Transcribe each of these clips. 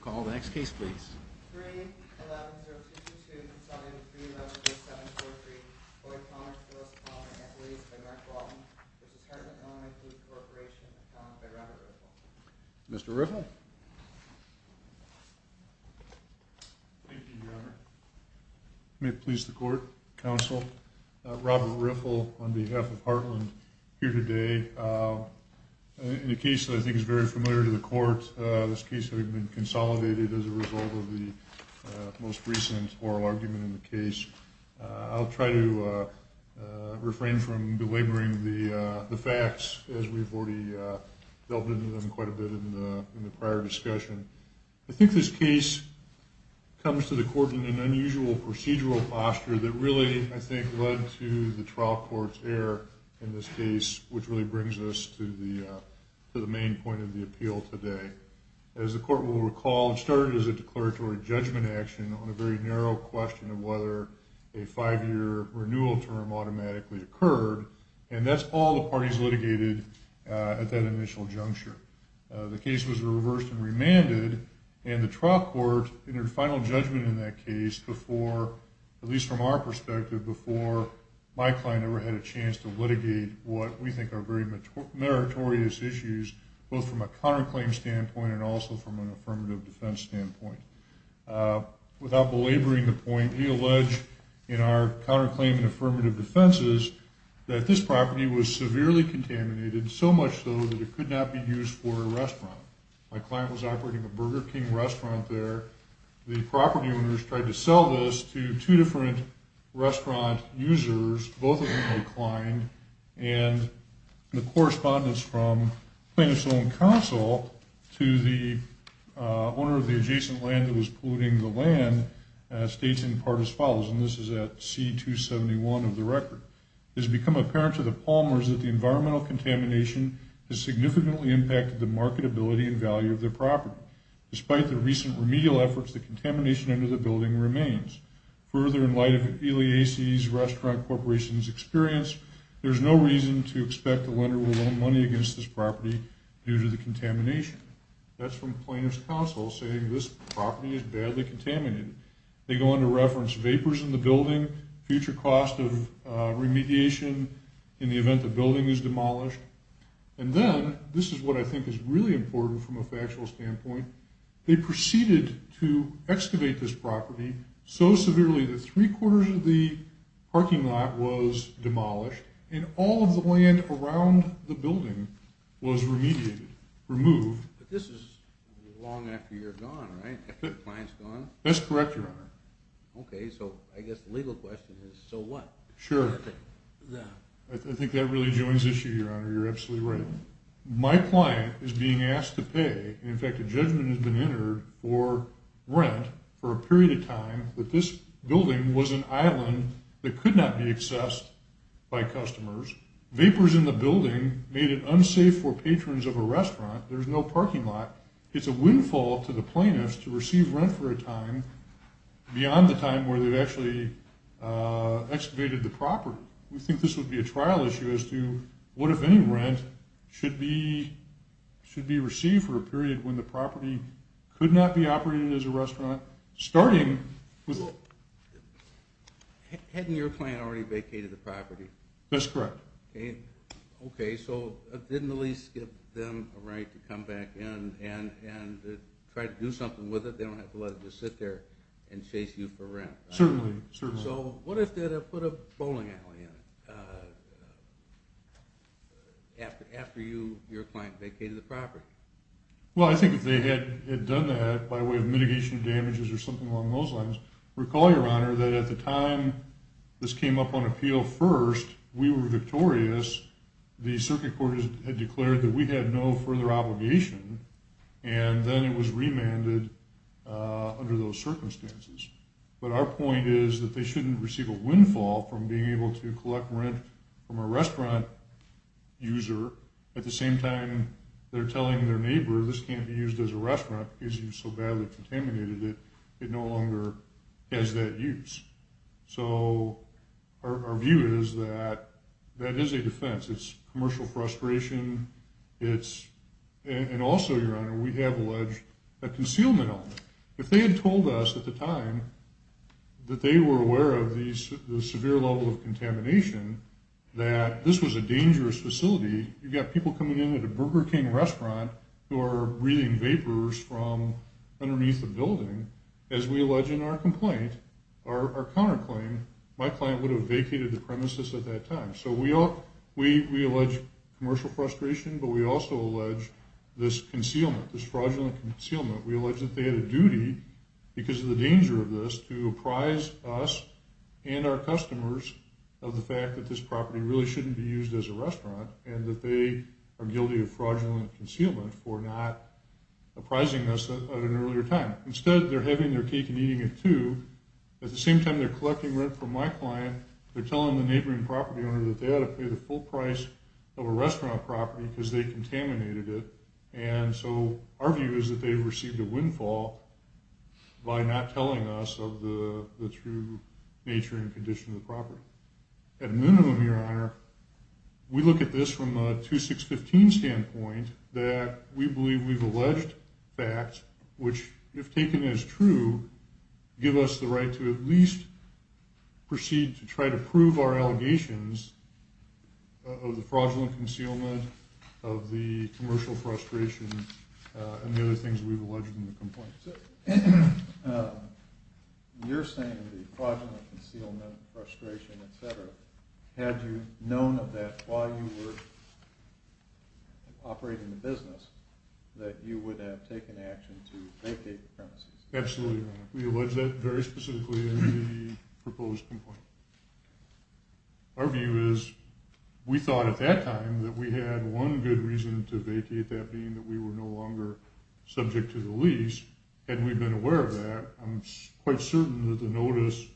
Call the next case, please. Mr. Riffle. May it please the court counsel Robert Riffle on behalf of Heartland here today. In a case that I think is very familiar to the court, this case has been consolidated as a result of the most recent oral argument in the case. I'll try to refrain from belaboring the facts as we've already delved into them quite a bit in the prior discussion. I think this case comes to the court in an unusual procedural posture that really, I think, led to the trial court's error in this case, which really brings us to the main point of the appeal today. As the court will recall, it started as a declaratory judgment action on a very narrow question of whether a five-year renewal term automatically occurred, and that's all the parties litigated at that initial juncture. The case was reversed and remanded, and the trial court entered final judgment in that case before, at least from our perspective, before my client ever had a chance to litigate what we think are very meritorious issues, both from a counterclaim standpoint and also from an affirmative defense standpoint. Without belaboring the point, we allege in our counterclaim and affirmative defenses that this property was severely contaminated, so much so that it could not be used for a restaurant. My client was operating a Burger King restaurant there. The property owners tried to sell this to two different restaurant users, both of whom declined, and the correspondence from plaintiff's own counsel to the owner of the adjacent land that was polluting the land states in part as follows, and this is at C-271 of the record. It has become apparent to the Palmers that the environmental contamination has significantly impacted the marketability and value of their property. Despite the recent remedial efforts, the contamination under the building remains. Further, in light of Eliassi's Restaurant Corporation's experience, there is no reason to expect the lender will loan money against this property due to the contamination. That's from plaintiff's counsel saying this property is badly contaminated. They go on to reference vapors in the building, future cost of remediation in the event the building is demolished, and then, this is what I think is really important from a factual standpoint, they proceeded to excavate this property so severely that three-quarters of the parking lot was demolished, and all of the land around the building was remediated, removed. But this is long after you're gone, right? After the client's gone? That's correct, Your Honor. Okay, so I guess the legal question is, so what? I think that really joins the issue, Your Honor. You're absolutely right. My client is being asked to pay, in fact, a judgment has been entered for rent for a period of time that this building was an island that could not be accessed by customers. Vapors in the building made it unsafe for patrons of a restaurant. There's no parking lot. It's a windfall to the plaintiffs to receive rent for a time beyond the time where they've actually excavated the property. We think this would be a trial issue as to what, if any, rent should be received for a period when the property could not be operated as a restaurant, starting with... Hadn't your client already vacated the property? That's correct. Okay, so didn't the lease give them a right to come back in and try to do something with it? They don't have to let it just sit there and chase you for rent? Certainly, certainly. So what if they put a bowling alley in it after your client vacated the property? Well, I think if they had done that by way of mitigation of damages or something along those lines, recall, Your Honor, that at the time this came up on appeal first, we were victorious. The circuit court had declared that we had no further obligation, and then it was remanded under those circumstances. But our point is that they shouldn't receive a windfall from being able to collect rent from a restaurant user at the same time they're telling their neighbor this can't be used as a restaurant because you've so badly contaminated it, it no longer has that use. So our view is that that is a defense. It's commercial frustration. And also, Your Honor, we have alleged a concealment element. If they had told us at the time that they were aware of the severe level of contamination, that this was a dangerous facility, you've got people coming in at a Burger King restaurant who are breathing vapors from underneath the building, as we allege in our complaint, our counterclaim, my client would have vacated the premises at that time. So we allege commercial frustration, but we also allege this concealment, this fraudulent concealment. We allege that they had a duty, because of the danger of this, to apprise us and our customers of the fact that this property really shouldn't be used as a restaurant and that they are guilty of fraudulent concealment for not apprising us at an earlier time. Instead, they're having their cake and eating it, too. At the same time, they're collecting rent from my client. They're telling the neighboring property owner that they ought to pay the full price of a restaurant property because they contaminated it. And so our view is that they've received a windfall by not telling us of the true nature and condition of the property. So, at a minimum, Your Honor, we look at this from a 2615 standpoint, that we believe we've alleged facts which, if taken as true, give us the right to at least proceed to try to prove our allegations of the fraudulent concealment, of the commercial frustration, and the other things we've alleged in the complaint. So, you're saying the fraudulent concealment, frustration, etc., had you known of that while you were operating the business, that you would have taken action to vacate the premises? Absolutely, Your Honor. We allege that very specifically in the proposed complaint. Our view is, we thought at that time that we had one good reason to vacate, that being that we were no longer subject to the lease, and we've been aware of that. I'm quite certain that the notice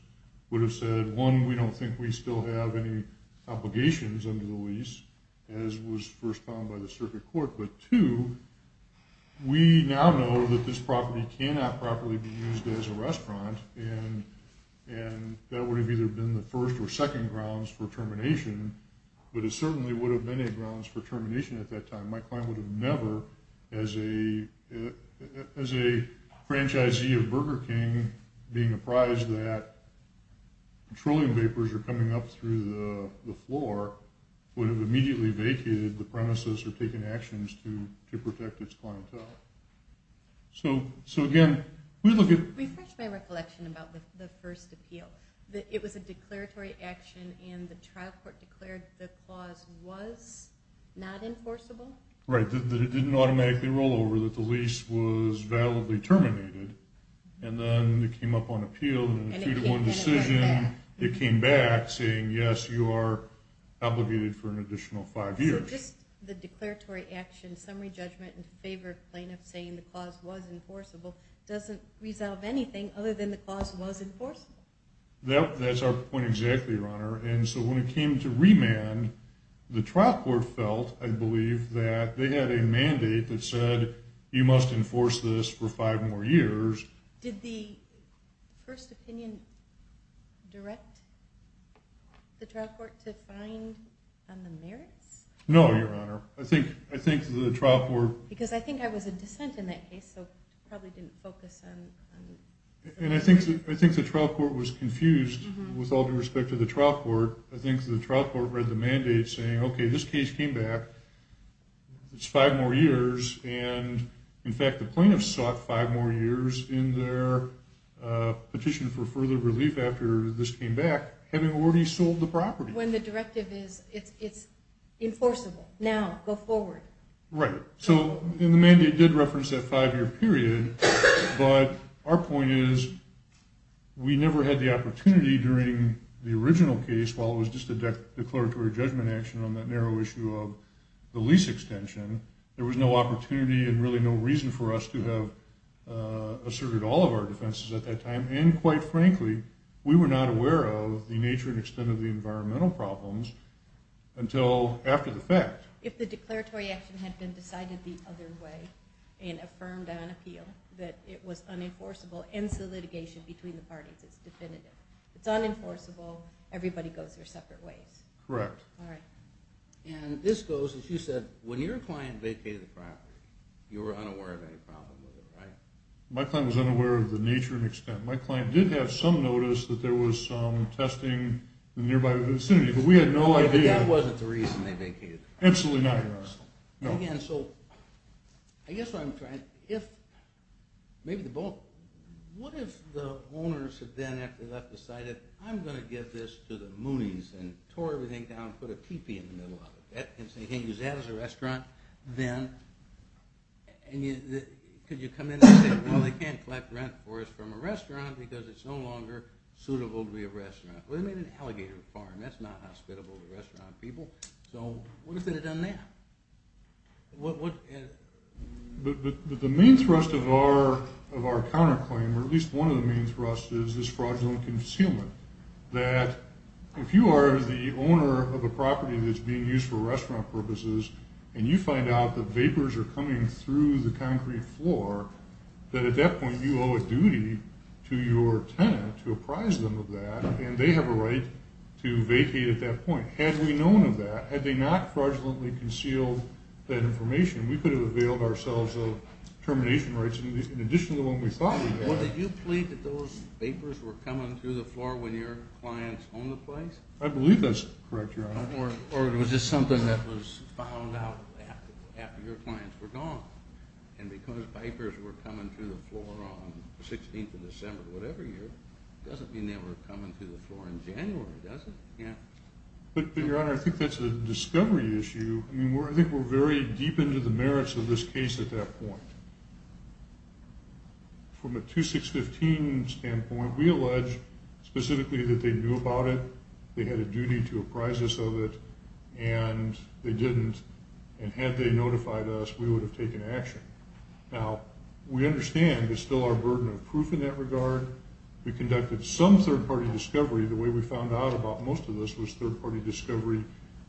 would have said, one, we don't think we still have any obligations under the lease, as was first found by the circuit court. But two, we now know that this property cannot properly be used as a restaurant, and that would have either been the first or second grounds for termination, but it certainly would have been a grounds for termination at that time. My client would have never, as a franchisee of Burger King, being apprised that petroleum vapors are coming up through the floor, would have immediately vacated the premises or taken actions to protect its clientele. Refresh my recollection about the first appeal. It was a declaratory action, and the trial court declared that the clause was not enforceable? Right, that it didn't automatically roll over, that the lease was validly terminated, and then it came up on appeal, and in a 2-1 decision, it came back saying, yes, you are obligated for an additional five years. So just the declaratory action, summary judgment, in favor of plaintiffs saying the clause was enforceable, doesn't resolve anything other than the clause was enforceable? That's our point exactly, Your Honor, and so when it came to remand, the trial court felt, I believe, that they had a mandate that said, you must enforce this for five more years. Did the first opinion direct the trial court to find on the merits? No, Your Honor. I think the trial court... Because I think I was a dissent in that case, so probably didn't focus on... And I think the trial court was confused with all due respect to the trial court. I think the trial court read the mandate saying, okay, this case came back, it's five more years, and in fact, the plaintiffs sought five more years in their petition for further relief after this came back, having already sold the property. When the directive is, it's enforceable. Now, go forward. Right. So the mandate did reference that five-year period, but our point is, we never had the opportunity during the original case, while it was just a declaratory judgment action on that narrow issue of the lease extension, there was no opportunity and really no reason for us to have asserted all of our defenses at that time, and quite frankly, we were not aware of the nature and extent of the environmental problems until after the fact. If the declaratory action had been decided the other way, and affirmed on appeal, that it was unenforceable, ends the litigation between the parties. It's definitive. It's unenforceable, everybody goes their separate ways. Correct. And this goes, as you said, when your client vacated the property, you were unaware of any problem with it, right? My client was unaware of the nature and extent. My client did have some notice that there was some testing in the nearby vicinity, but we had no idea. But that wasn't the reason they vacated the property. Absolutely not, Your Honor. And again, so, I guess what I'm trying, if, maybe the both, what if the owners had then, after that, decided, I'm going to give this to the Moonies, and tore everything down, put a teepee in the middle of it. You can't use that as a restaurant. Then, could you come in and say, well, they can't collect rent for us from a restaurant because it's no longer suitable to be a restaurant. Well, they made an alligator farm. That's not hospitable to restaurant people. So, what if they had done that? But the main thrust of our counterclaim, or at least one of the main thrusts, is this fraudulent concealment. That if you are the owner of a property that's being used for restaurant purposes, and you find out that vapors are coming through the concrete floor, that at that point you owe a duty to your tenant to apprise them of that, and they have a right to vacate at that point. Had we known of that, had they not fraudulently concealed that information, we could have availed ourselves of termination rights in addition to what we thought we had. Well, did you plead that those vapors were coming through the floor when your clients owned the place? I believe that's correct, Your Honor. Or it was just something that was found out after your clients were gone. And because vapors were coming through the floor on the 16th of December of whatever year, doesn't mean they were coming through the floor in January, does it? Yeah. But, Your Honor, I think that's a discovery issue. I mean, I think we're very deep into the merits of this case at that point. From a 2615 standpoint, we allege specifically that they knew about it, they had a duty to apprise us of it, and they didn't. And had they notified us, we would have taken action. Now, we understand it's still our burden of proof in that regard. We conducted some third-party discovery. The way we found out about most of this was third-party discovery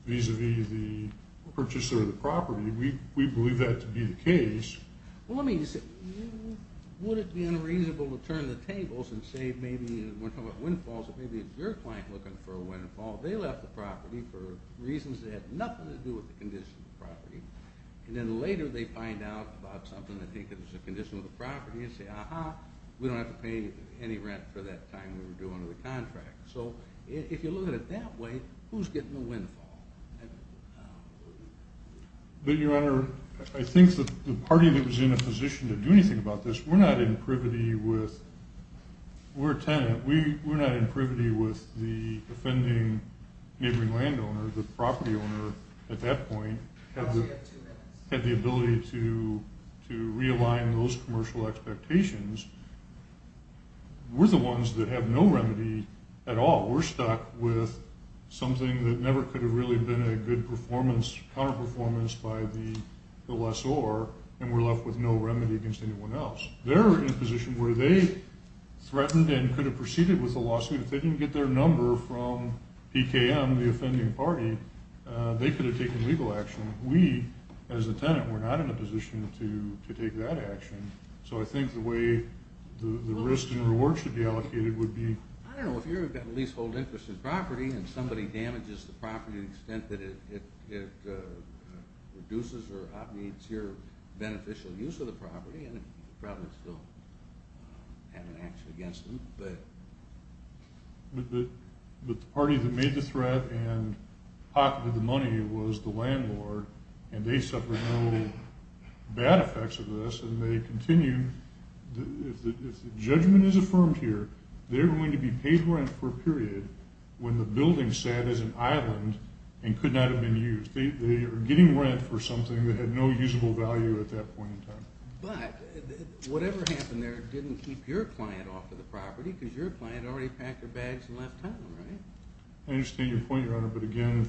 vis-à-vis the purchaser of the property. We believe that to be the case. Well, I mean, would it be unreasonable to turn the tables and say maybe, when we're talking about windfalls, that maybe it's your client looking for a windfall. They left the property for reasons that had nothing to do with the condition of the property. And then later they find out about something that they think is a condition of the property and say, Aha, we don't have to pay any rent for that time we were due under the contract. So, if you look at it that way, who's getting the windfall? But, Your Honor, I think that the party that was in a position to do anything about this, we're not in privity with, we're a tenant, we're not in privity with the offending neighboring landowner, the property owner, at that point, had the ability to realign those commercial expectations. We're the ones that have no remedy at all. We're stuck with something that never could have really been a good performance, counterperformance by the lessor, and we're left with no remedy against anyone else. They're in a position where they threatened and could have proceeded with a lawsuit. If they didn't get their number from PKM, the offending party, they could have taken legal action. We, as a tenant, were not in a position to take that action. So, I think the way the risk and reward should be allocated would be... I don't know, if you're a leasehold interest in property and somebody damages the property to the extent that it reduces or obviates your beneficial use of the property, then you probably still have an action against them, but... But the party that made the threat and pocketed the money was the landlord, and they suffered no bad effects of this, and they continue... If the judgment is affirmed here, they're going to be paid rent for a period when the building sat as an island and could not have been used. They are getting rent for something that had no usable value at that point in time. But, whatever happened there didn't keep your client off of the property, because your client already packed their bags and left town, right? I understand your point, Your Honor, but again,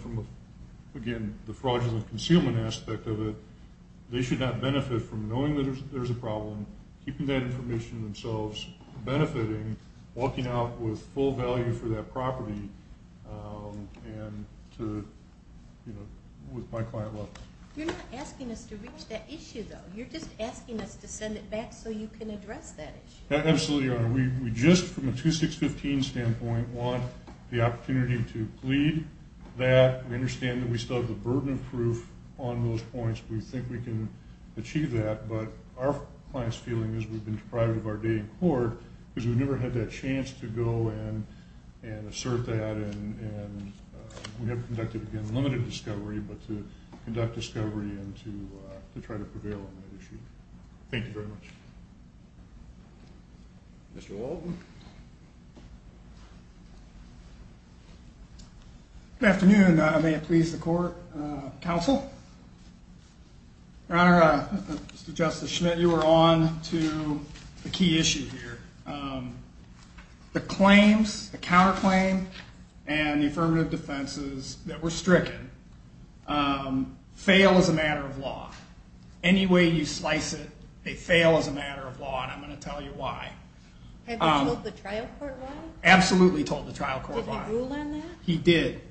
the fraudulent concealment aspect of it, they should not benefit from knowing that there's a problem, keeping that information to themselves, benefiting, walking out with full value for that property, and to, you know, with my client left. You're not asking us to reach that issue, though. You're just asking us to send it back so you can address that issue. Absolutely, Your Honor. We just, from a 2615 standpoint, want the opportunity to plead that, we understand that we still have the burden of proof on those points, we think we can achieve that, but our client's feeling is we've been deprived of our day in court because we've never had that chance to go and assert that, and we have conducted, again, limited discovery, but to conduct discovery and to try to prevail on that issue. Thank you very much. Mr. Walton. Good afternoon. May it please the court, counsel. Your Honor, Mr. Justice Schmidt, you are on to a key issue here. The claims, the counterclaim, and the affirmative defenses that were stricken fail as a matter of law. Any way you slice it, they fail as a matter of law, and I'm going to tell you why. Have they told the trial court why? Absolutely told the trial court why. Did they rule on that? He did.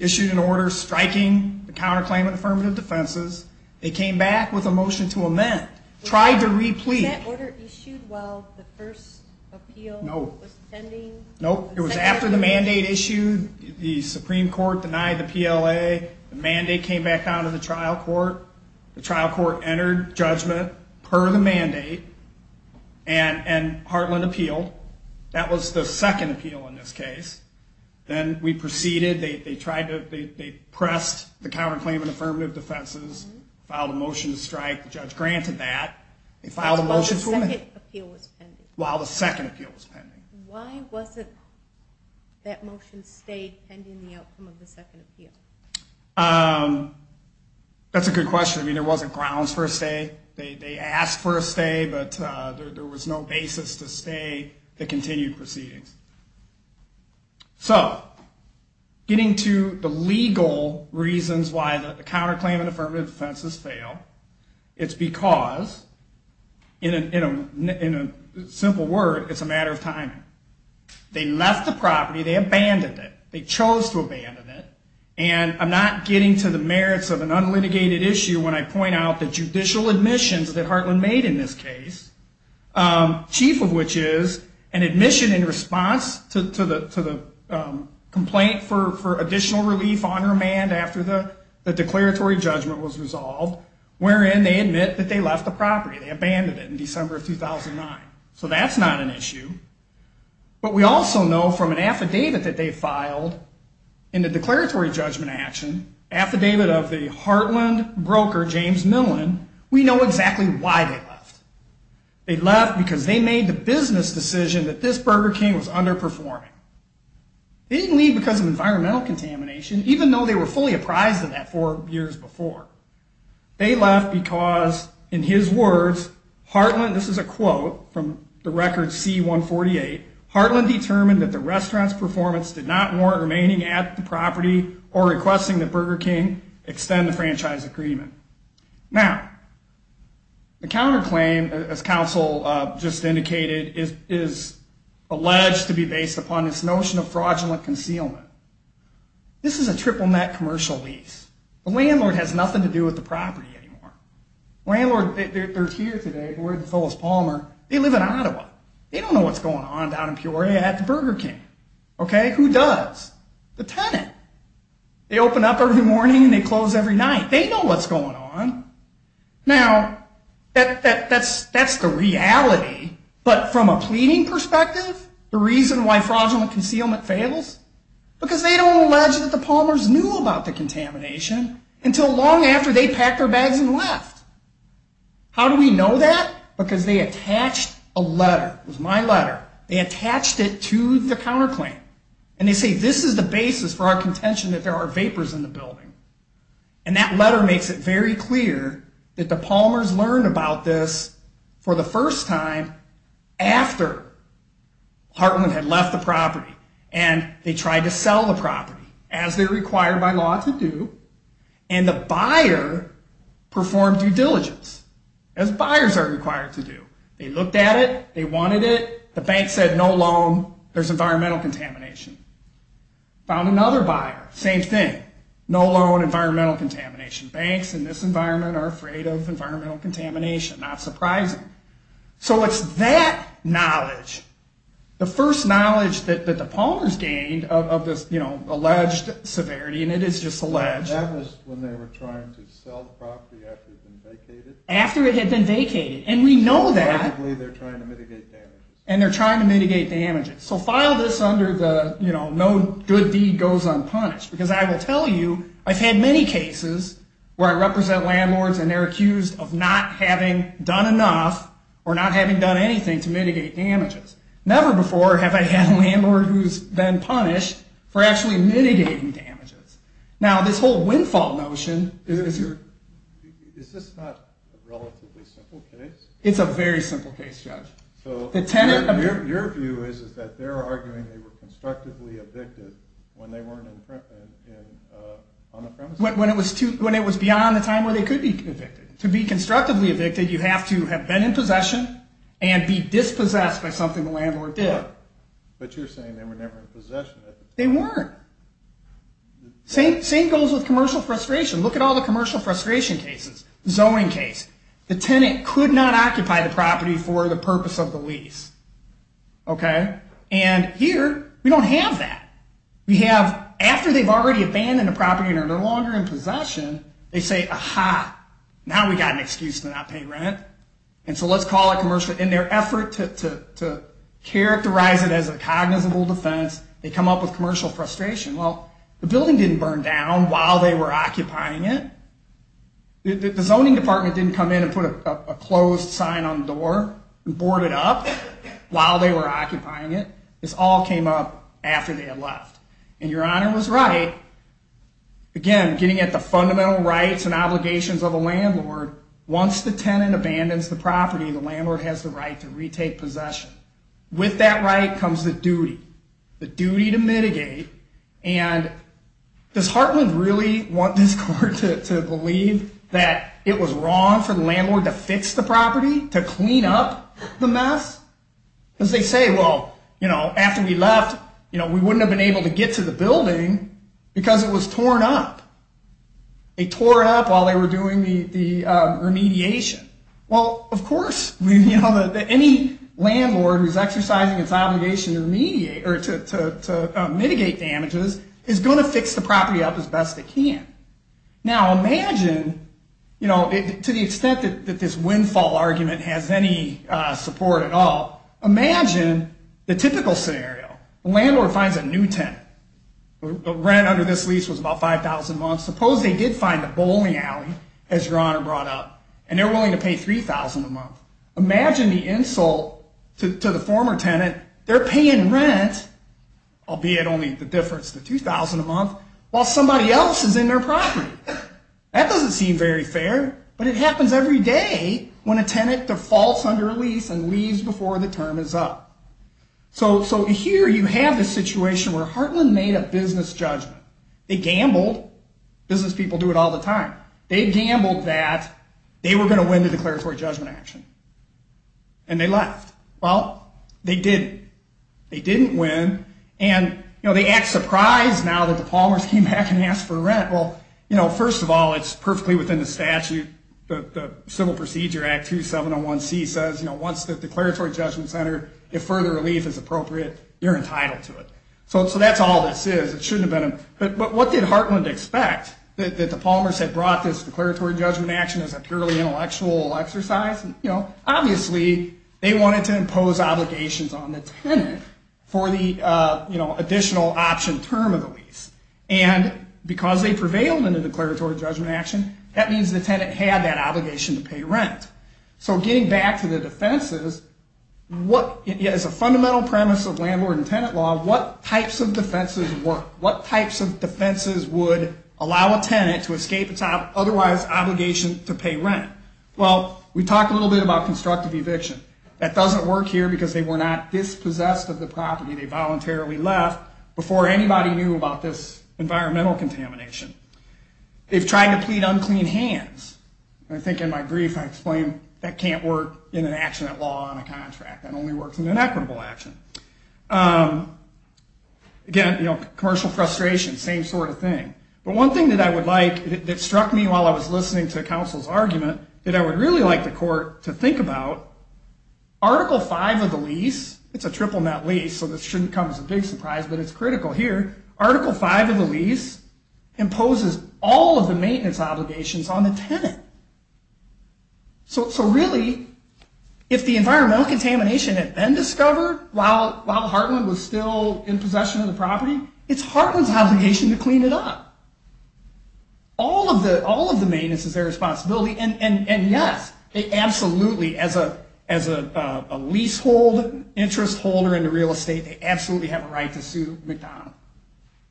Issued an order striking the counterclaim and affirmative defenses. They came back with a motion to amend. Tried to re-plead. Was that order issued while the first appeal was pending? Nope. It was after the mandate issued. The Supreme Court denied the PLA. The mandate came back down to the trial court. The trial court entered judgment per the mandate and heartland appealed. That was the second appeal in this case. Then we proceeded. They pressed the counterclaim and affirmative defenses, filed a motion to strike. The judge granted that. While the second appeal was pending? While the second appeal was pending. Why wasn't that motion stayed pending the outcome of the second appeal? That's a good question. There wasn't grounds for a stay. They asked for a stay, but there was no basis to stay. They continued proceedings. So, getting to the legal reasons why the counterclaim and affirmative defenses failed. It's because, in a simple word, it's a matter of timing. They left the property. They abandoned it. They chose to abandon it. And I'm not getting to the merits of an unlitigated issue when I point out the judicial admissions that Heartland made in this case. Chief of which is an admission in response to the complaint for additional relief on remand after the declaratory judgment was resolved, wherein they admit that they left the property. They abandoned it in December of 2009. So that's not an issue. But we also know from an affidavit that they filed in the declaratory judgment action, affidavit of the Heartland broker, James Millen, we know exactly why they left. They left because they made the business decision that this Burger King was underperforming. They didn't leave because of environmental contamination, even though they were fully apprised of that four years before. They left because, in his words, Heartland, this is a quote from the record C-148, Heartland determined that the restaurant's performance did not warrant remaining at the property or requesting that Burger King extend the franchise agreement. Now, the counterclaim, as counsel just indicated, is alleged to be based upon this notion of fraudulent concealment. This is a triple net commercial lease. The landlord has nothing to do with the property anymore. The landlord, they're here today, we're at the Phyllis Palmer. They live in Ottawa. They don't know what's going on down in Peoria at the Burger King. Okay? Who does? The tenant. They open up every morning and they close every night. They know what's going on. Now, that's the reality, but from a pleading perspective, the reason why fraudulent concealment fails, because they don't allege that the Palmers knew about the contamination until long after they packed their bags and left. How do we know that? Because they attached a letter. It was my letter. They attached it to the counterclaim. And they say, this is the basis for our contention that there are vapors in the building. And that letter makes it very clear that the Palmers learned about this for the first time after Heartland had left the property. And they tried to sell the property, as they're required by law to do. And the buyer performed due diligence, as buyers are required to do. They looked at it. They wanted it. The bank said, no loan. There's environmental contamination. Found another buyer. Same thing. No loan, environmental contamination. Banks in this environment are afraid of environmental contamination. Not surprising. So it's that knowledge, the first knowledge that the Palmers gained of this alleged severity, and it is just alleged. So that was when they were trying to sell the property after it had been vacated? After it had been vacated. And we know that. So basically they're trying to mitigate damages. And they're trying to mitigate damages. So file this under the, you know, no good deed goes unpunished. Because I will tell you, I've had many cases where I represent landlords and they're accused of not having done enough or not having done anything to mitigate damages. Never before have I had a landlord who's been punished for actually mitigating damages. Now, this whole windfall notion, is there? Is this not a relatively simple case? It's a very simple case, Judge. So your view is that they're arguing they were constructively evicted when they weren't on the premises? To be constructively evicted, you have to have been in possession and be dispossessed by something the landlord did. But you're saying they were never in possession at the time? They weren't. Same goes with commercial frustration. Look at all the commercial frustration cases. The zoning case. The tenant could not occupy the property for the purpose of the lease. Okay? And here, we don't have that. After they've already abandoned the property and are no longer in possession, they say, Aha, now we've got an excuse to not pay rent. And so let's call it commercial. In their effort to characterize it as a cognizable defense, they come up with commercial frustration. Well, the building didn't burn down while they were occupying it. The zoning department didn't come in and put a closed sign on the door and board it up while they were occupying it. This all came up after they had left. And Your Honor was right. Again, getting at the fundamental rights and obligations of a landlord, once the tenant abandons the property, the landlord has the right to retake possession. With that right comes the duty. The duty to mitigate. And does Hartland really want this court to believe that it was wrong for the landlord to fix the property? To clean up the mess? Because they say, well, after we left, we wouldn't have been able to get to the building because it was torn up. They tore it up while they were doing the remediation. Well, of course, any landlord who's exercising its obligation to mitigate damages is going to fix the property up as best they can. Now, imagine, to the extent that this windfall argument has any support at all, imagine the typical scenario. The landlord finds a new tenant. The rent under this lease was about $5,000 a month. Suppose they did find a bowling alley, as Your Honor brought up, and they're willing to pay $3,000 a month. Imagine the insult to the former tenant. They're paying rent, albeit only the difference to $2,000 a month, while somebody else is in their property. That doesn't seem very fair. But it happens every day when a tenant defaults under a lease and leaves before the term is up. So here you have the situation where Hartland made a business judgment. They gambled. Business people do it all the time. They gambled that they were going to win the declaratory judgment action. And they left. Well, they didn't. They didn't win. And, you know, they act surprised now that the Palmers came back and asked for rent. Well, you know, first of all, it's perfectly within the statute. The Civil Procedure Act 2701C says, you know, once the declaratory judgment is entered, if further relief is appropriate, you're entitled to it. So that's all this is. It shouldn't have been a – but what did Hartland expect? That the Palmers had brought this declaratory judgment action as a purely intellectual exercise? You know, obviously they wanted to impose obligations on the tenant for the, you know, additional option term of the lease. And because they prevailed in the declaratory judgment action, that means the tenant had that obligation to pay rent. So getting back to the defenses, as a fundamental premise of landlord and tenant law, what types of defenses work? What types of defenses would allow a tenant to escape its otherwise obligation to pay rent? Well, we talked a little bit about constructive eviction. That doesn't work here because they were not dispossessed of the property. They voluntarily left before anybody knew about this environmental contamination. They've tried to plead unclean hands. I think in my brief I explained that can't work in an action at law on a contract. That only works in an equitable action. Again, you know, commercial frustration, same sort of thing. But one thing that I would like, that struck me while I was listening to counsel's argument, that I would really like the court to think about, Article V of the lease, it's a triple net lease, so this shouldn't come as a big surprise, but it's critical here. Article V of the lease imposes all of the maintenance obligations on the tenant. So really, if the environmental contamination had been discovered while Hartland was still in possession of the property, it's Hartland's obligation to clean it up. All of the maintenance is their responsibility, and yes, they absolutely, as a leasehold, interest holder in the real estate, they absolutely have a right to sue McDonald,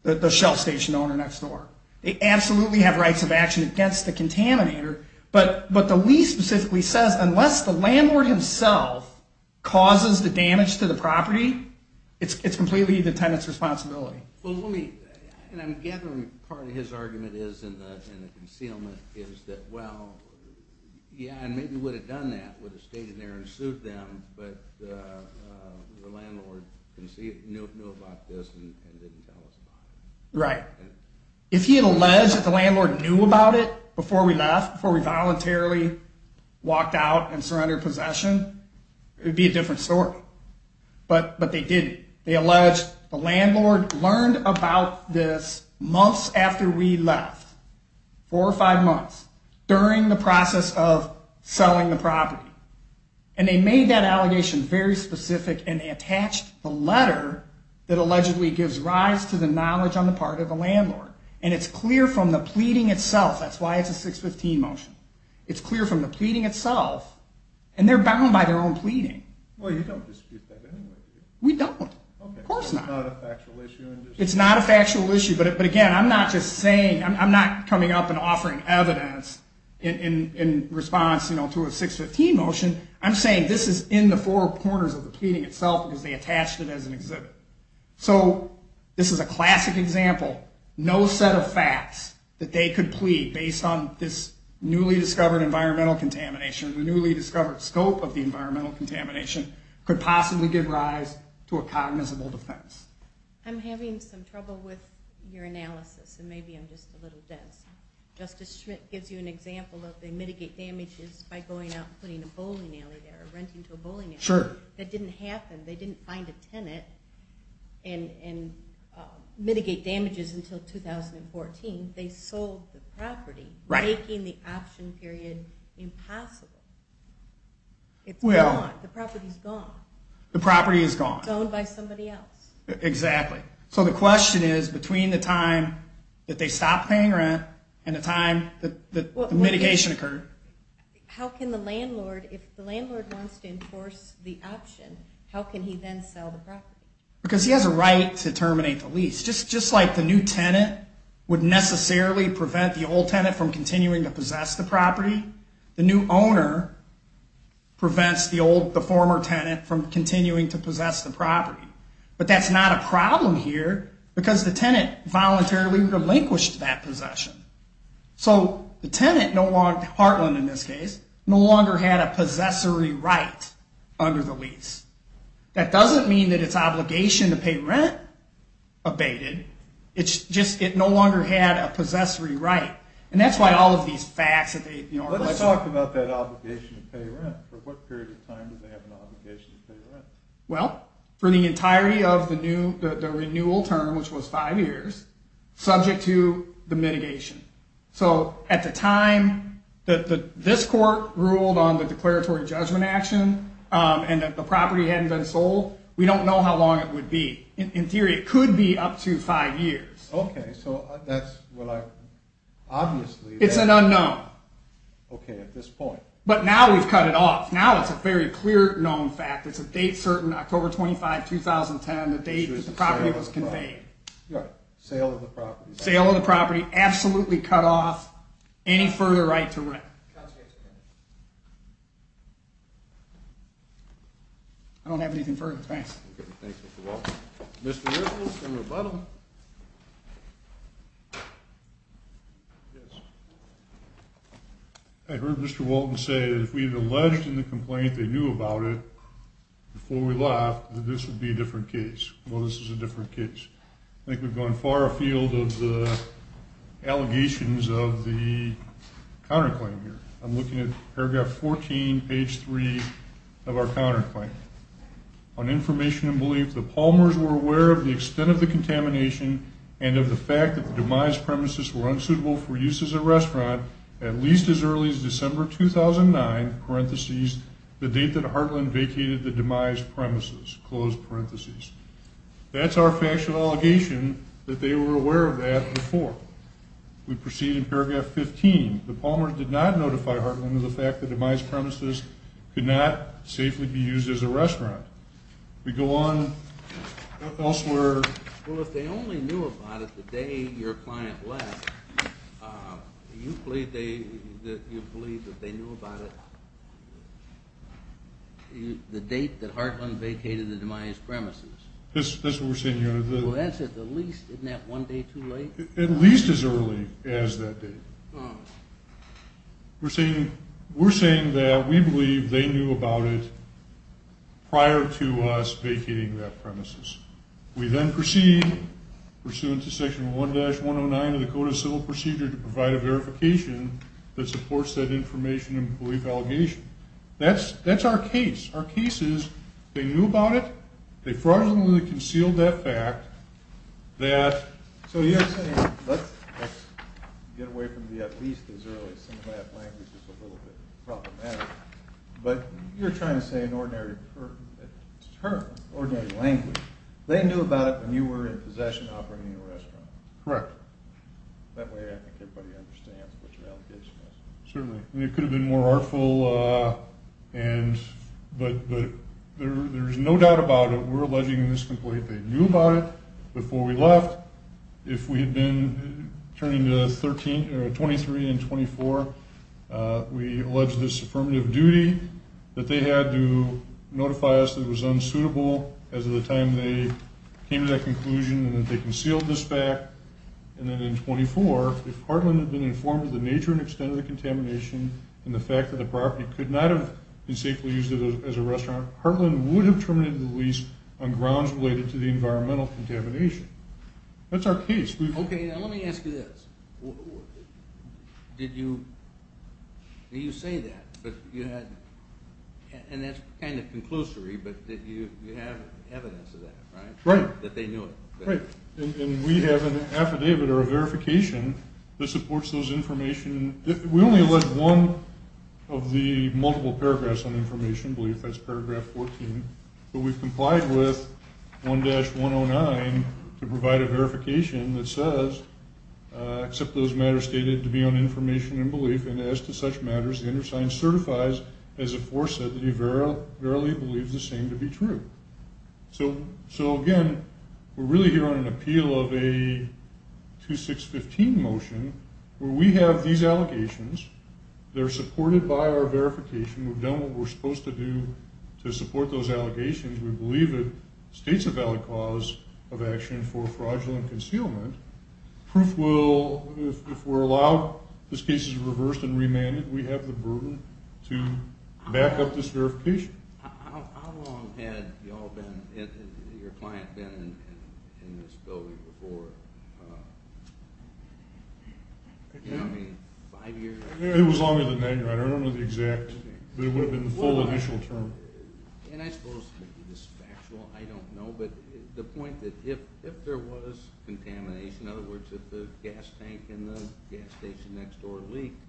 the shelf station owner next door. They absolutely have rights of action against the contaminator, but the lease specifically says unless the landlord himself causes the damage to the property, it's completely the tenant's responsibility. Well, let me, and I'm gathering part of his argument is in the concealment, is that well, yeah, and maybe would have done that, would have stayed in there and sued them, but the landlord knew about this and didn't tell us about it. Right. If he had alleged that the landlord knew about it before we left, before we voluntarily walked out and surrendered possession, it would be a different story. But they didn't. They alleged the landlord learned about this months after we left, four or five months, during the process of selling the property, and they made that allegation very specific and they attached the letter that allegedly gives rise to the knowledge on the part of the landlord, and it's clear from the pleading itself. That's why it's a 615 motion. It's clear from the pleading itself, and they're bound by their own pleading. Well, you don't dispute that anyway, do you? We don't. Okay. Of course not. It's not a factual issue. It's not a factual issue, but again, I'm not just saying, I'm not coming up and offering evidence in response to a 615 motion. I'm saying this is in the four corners of the pleading itself because they attached it as an exhibit. So this is a classic example, no set of facts that they could plead based on this newly discovered environmental contamination, the newly discovered scope of the environmental contamination, could possibly give rise to a cognizable defense. I'm having some trouble with your analysis, and maybe I'm just a little dense. Justice Schmidt gives you an example of they mitigate damages by going out and putting a bowling alley there or renting to a bowling alley. Sure. That didn't happen. They didn't find a tenant and mitigate damages until 2014. They sold the property, making the option period impossible. It's gone. The property's gone. The property is gone. It's owned by somebody else. Exactly. So the question is, between the time that they stopped paying rent and the time the mitigation occurred. How can the landlord, if the landlord wants to enforce the option, how can he then sell the property? Because he has a right to terminate the lease. Just like the new tenant would necessarily prevent the old tenant from continuing to possess the property, the new owner prevents the former tenant from continuing to possess the property. But that's not a problem here because the tenant voluntarily relinquished that possession. So the tenant, Hartland in this case, no longer had a possessory right under the lease. That doesn't mean that it's obligation to pay rent abated. It's just it no longer had a possessory right. And that's why all of these facts that they, you know, are listed. Let's talk about that obligation to pay rent. For what period of time did they have an obligation to pay rent? Well, for the entirety of the renewal term, which was five years, subject to the mitigation. So at the time that this court ruled on the declaratory judgment action and that the property hadn't been sold, we don't know how long it would be. In theory, it could be up to five years. Okay. So that's what I, obviously. It's an unknown. Okay. At this point. But now we've cut it off. Now it's a very clear known fact. It's a date certain, October 25, 2010, the date that the property was conveyed. Right. Sale of the property. Sale of the property. Absolutely cut off. Any further right to rent. I don't have anything further. Thanks. Okay. Thanks, Mr. Walton. Mr. Ripple for rebuttal. Yes. I heard Mr. Walton say that if we had alleged in the complaint they knew about it before we left, that this would be a different case. Well, this is a different case. I think we've gone far afield of the allegations of the counterclaim here. I'm looking at paragraph 14, page 3 of our counterclaim. On information and belief, the Palmers were aware of the extent of the contamination and of the fact that the demise premises were unsuitable for use as a restaurant at least as early as December 2009, the date that Heartland vacated the demise premises. That's our factual allegation that they were aware of that before. We proceed in paragraph 15. The Palmers did not notify Heartland of the fact that the demise premises could not safely be used as a restaurant. We go on elsewhere. Well, if they only knew about it the day your client left, you believe that they knew about it the date that Heartland vacated the demise premises? That's what we're saying here. Well, that's at least, isn't that one day too late? At least as early as that date. We're saying that we believe they knew about it prior to us vacating that premises. We then proceed, pursuant to section 1-109 of the Code of Civil Procedure, to provide a verification that supports that information and belief allegation. That's our case. Our case is they knew about it. They fraudulently concealed that fact. So you're saying let's get away from the at least as early as December. That language is a little bit problematic. But you're trying to say an ordinary term, ordinary language. They knew about it when you were in possession, operating the restaurant. Correct. That way I think everybody understands what your allegation is. Certainly. It could have been more artful, but there's no doubt about it. We're alleging in this complaint they knew about it before we left. If we had been turning to 23 and 24, we allege this affirmative duty that they had to notify us that it was unsuitable as of the time they came to that conclusion and that they concealed this fact. And then in 24, if Heartland had been informed of the nature and extent of the contamination and the fact that the property could not have been safely used as a restaurant, Heartland would have terminated the lease on grounds related to the environmental contamination. That's our case. Okay. Now let me ask you this. Did you say that, and that's kind of conclusory, but you have evidence of that, right? Right. That they knew it. Right. And we have an affidavit or a verification that supports those information. We only allege one of the multiple paragraphs on information, I believe that's paragraph 14, but we've complied with 1-109 to provide a verification that says, except those matters stated to be on information and belief, and as to such matters, the undersigned certifies as aforesaid that he verily believes the same to be true. So, again, we're really here on an appeal of a 2615 motion where we have these allegations. They're supported by our verification. We've done what we're supposed to do to support those allegations. We believe it states a valid cause of action for fraudulent concealment. Proof will, if we're allowed, this case is reversed and remanded. We have the burden to back up this verification. How long had you all been, your client, been in this building before? I mean, five years? It was longer than that. I don't know the exact. It would have been the full initial term. And I suppose this is factual. I don't know, but the point that if there was contamination, in other words, if the gas tank in the gas station next door leaked,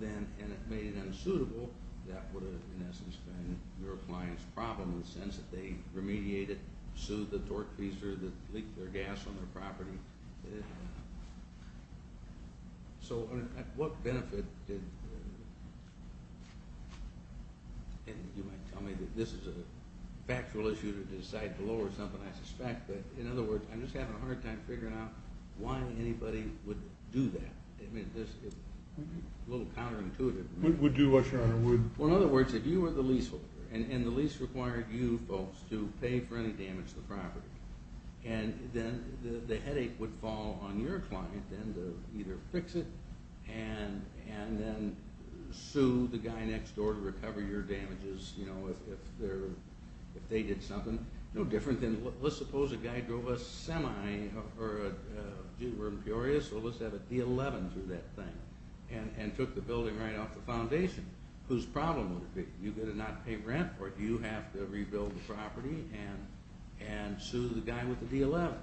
and it made it unsuitable, that would have, in essence, been your client's problem in the sense that they remediated, soothed the torque piece or leaked their gas on their property. So what benefit did, and you might tell me that this is a factual issue to decide to lower something, I suspect, but, in other words, I'm just having a hard time figuring out why anybody would do that. It's a little counterintuitive. Would do what, Your Honor? Well, in other words, if you were the leaseholder and the lease required you folks to pay for any damage to the property, and then the headache would fall on your client then to either fix it and then sue the guy next door to recover your damages, you know, if they did something. No different than, let's suppose a guy drove a semi or a, were imperious, so let's have a D11 do that thing and took the building right off the foundation, whose problem would it be? Do you get a not-to-pay rent or do you have to rebuild the property and sue the guy with the D11?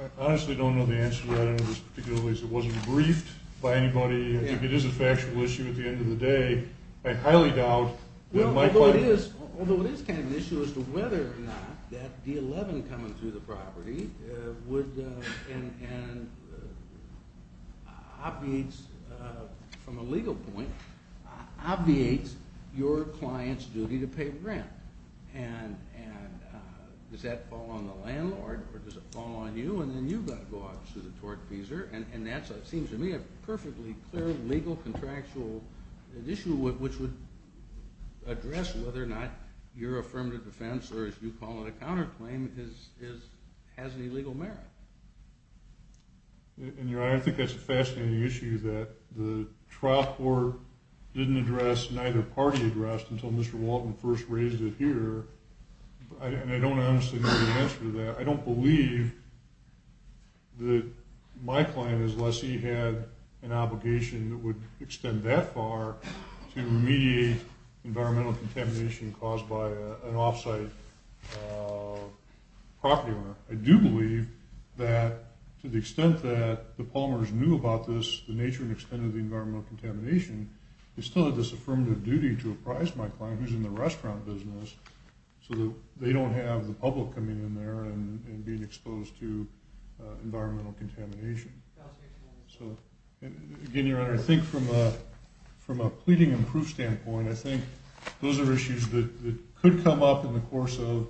I honestly don't know the answer to that in this particular case. It wasn't briefed by anybody. It is a factual issue at the end of the day. I highly doubt that my client... Although it is kind of an issue as to whether or not that D11 coming through the property would, and obviates from a legal point, obviates your client's duty to pay rent. And does that fall on the landlord or does it fall on you? And then you've got to go out to the tort-feeser, and that seems to me a perfectly clear legal contractual issue which would address whether or not your affirmative defense or, as you call it, a counterclaim has any legal merit. And, Your Honor, I think that's a fascinating issue that the trial court didn't address, neither party addressed, until Mr. Walton first raised it here. And I don't honestly know the answer to that. I don't believe that my client, unless he had an obligation that would extend that far to remediate environmental contamination caused by an off-site property owner. I do believe that to the extent that the Palmers knew about this, the nature and extent of the environmental contamination, it's still a disaffirmative duty to apprise my client, who's in the restaurant business, so that they don't have the public coming in there and being exposed to environmental contamination. So, again, Your Honor, I think from a pleading and proof standpoint, I think those are issues that could come up in the course of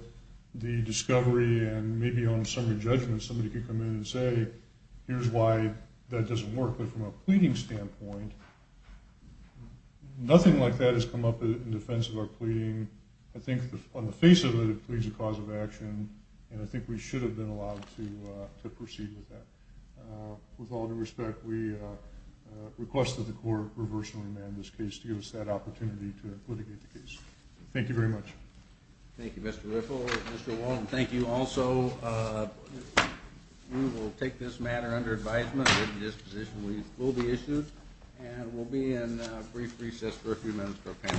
the discovery and maybe on a summary judgment. Somebody could come in and say, here's why that doesn't work. But from a pleading standpoint, nothing like that has come up in defense of our pleading. I think on the face of it, it pleads a cause of action, and I think we should have been allowed to proceed with that. With all due respect, we request that the court reverse and remand this case to give us that opportunity to litigate the case. Thank you very much. Thank you, Mr. Riffle, Mr. Wall. And thank you also. We will take this matter under advisement that this position will be issued, and we'll be in a brief recess for a few minutes for a panel.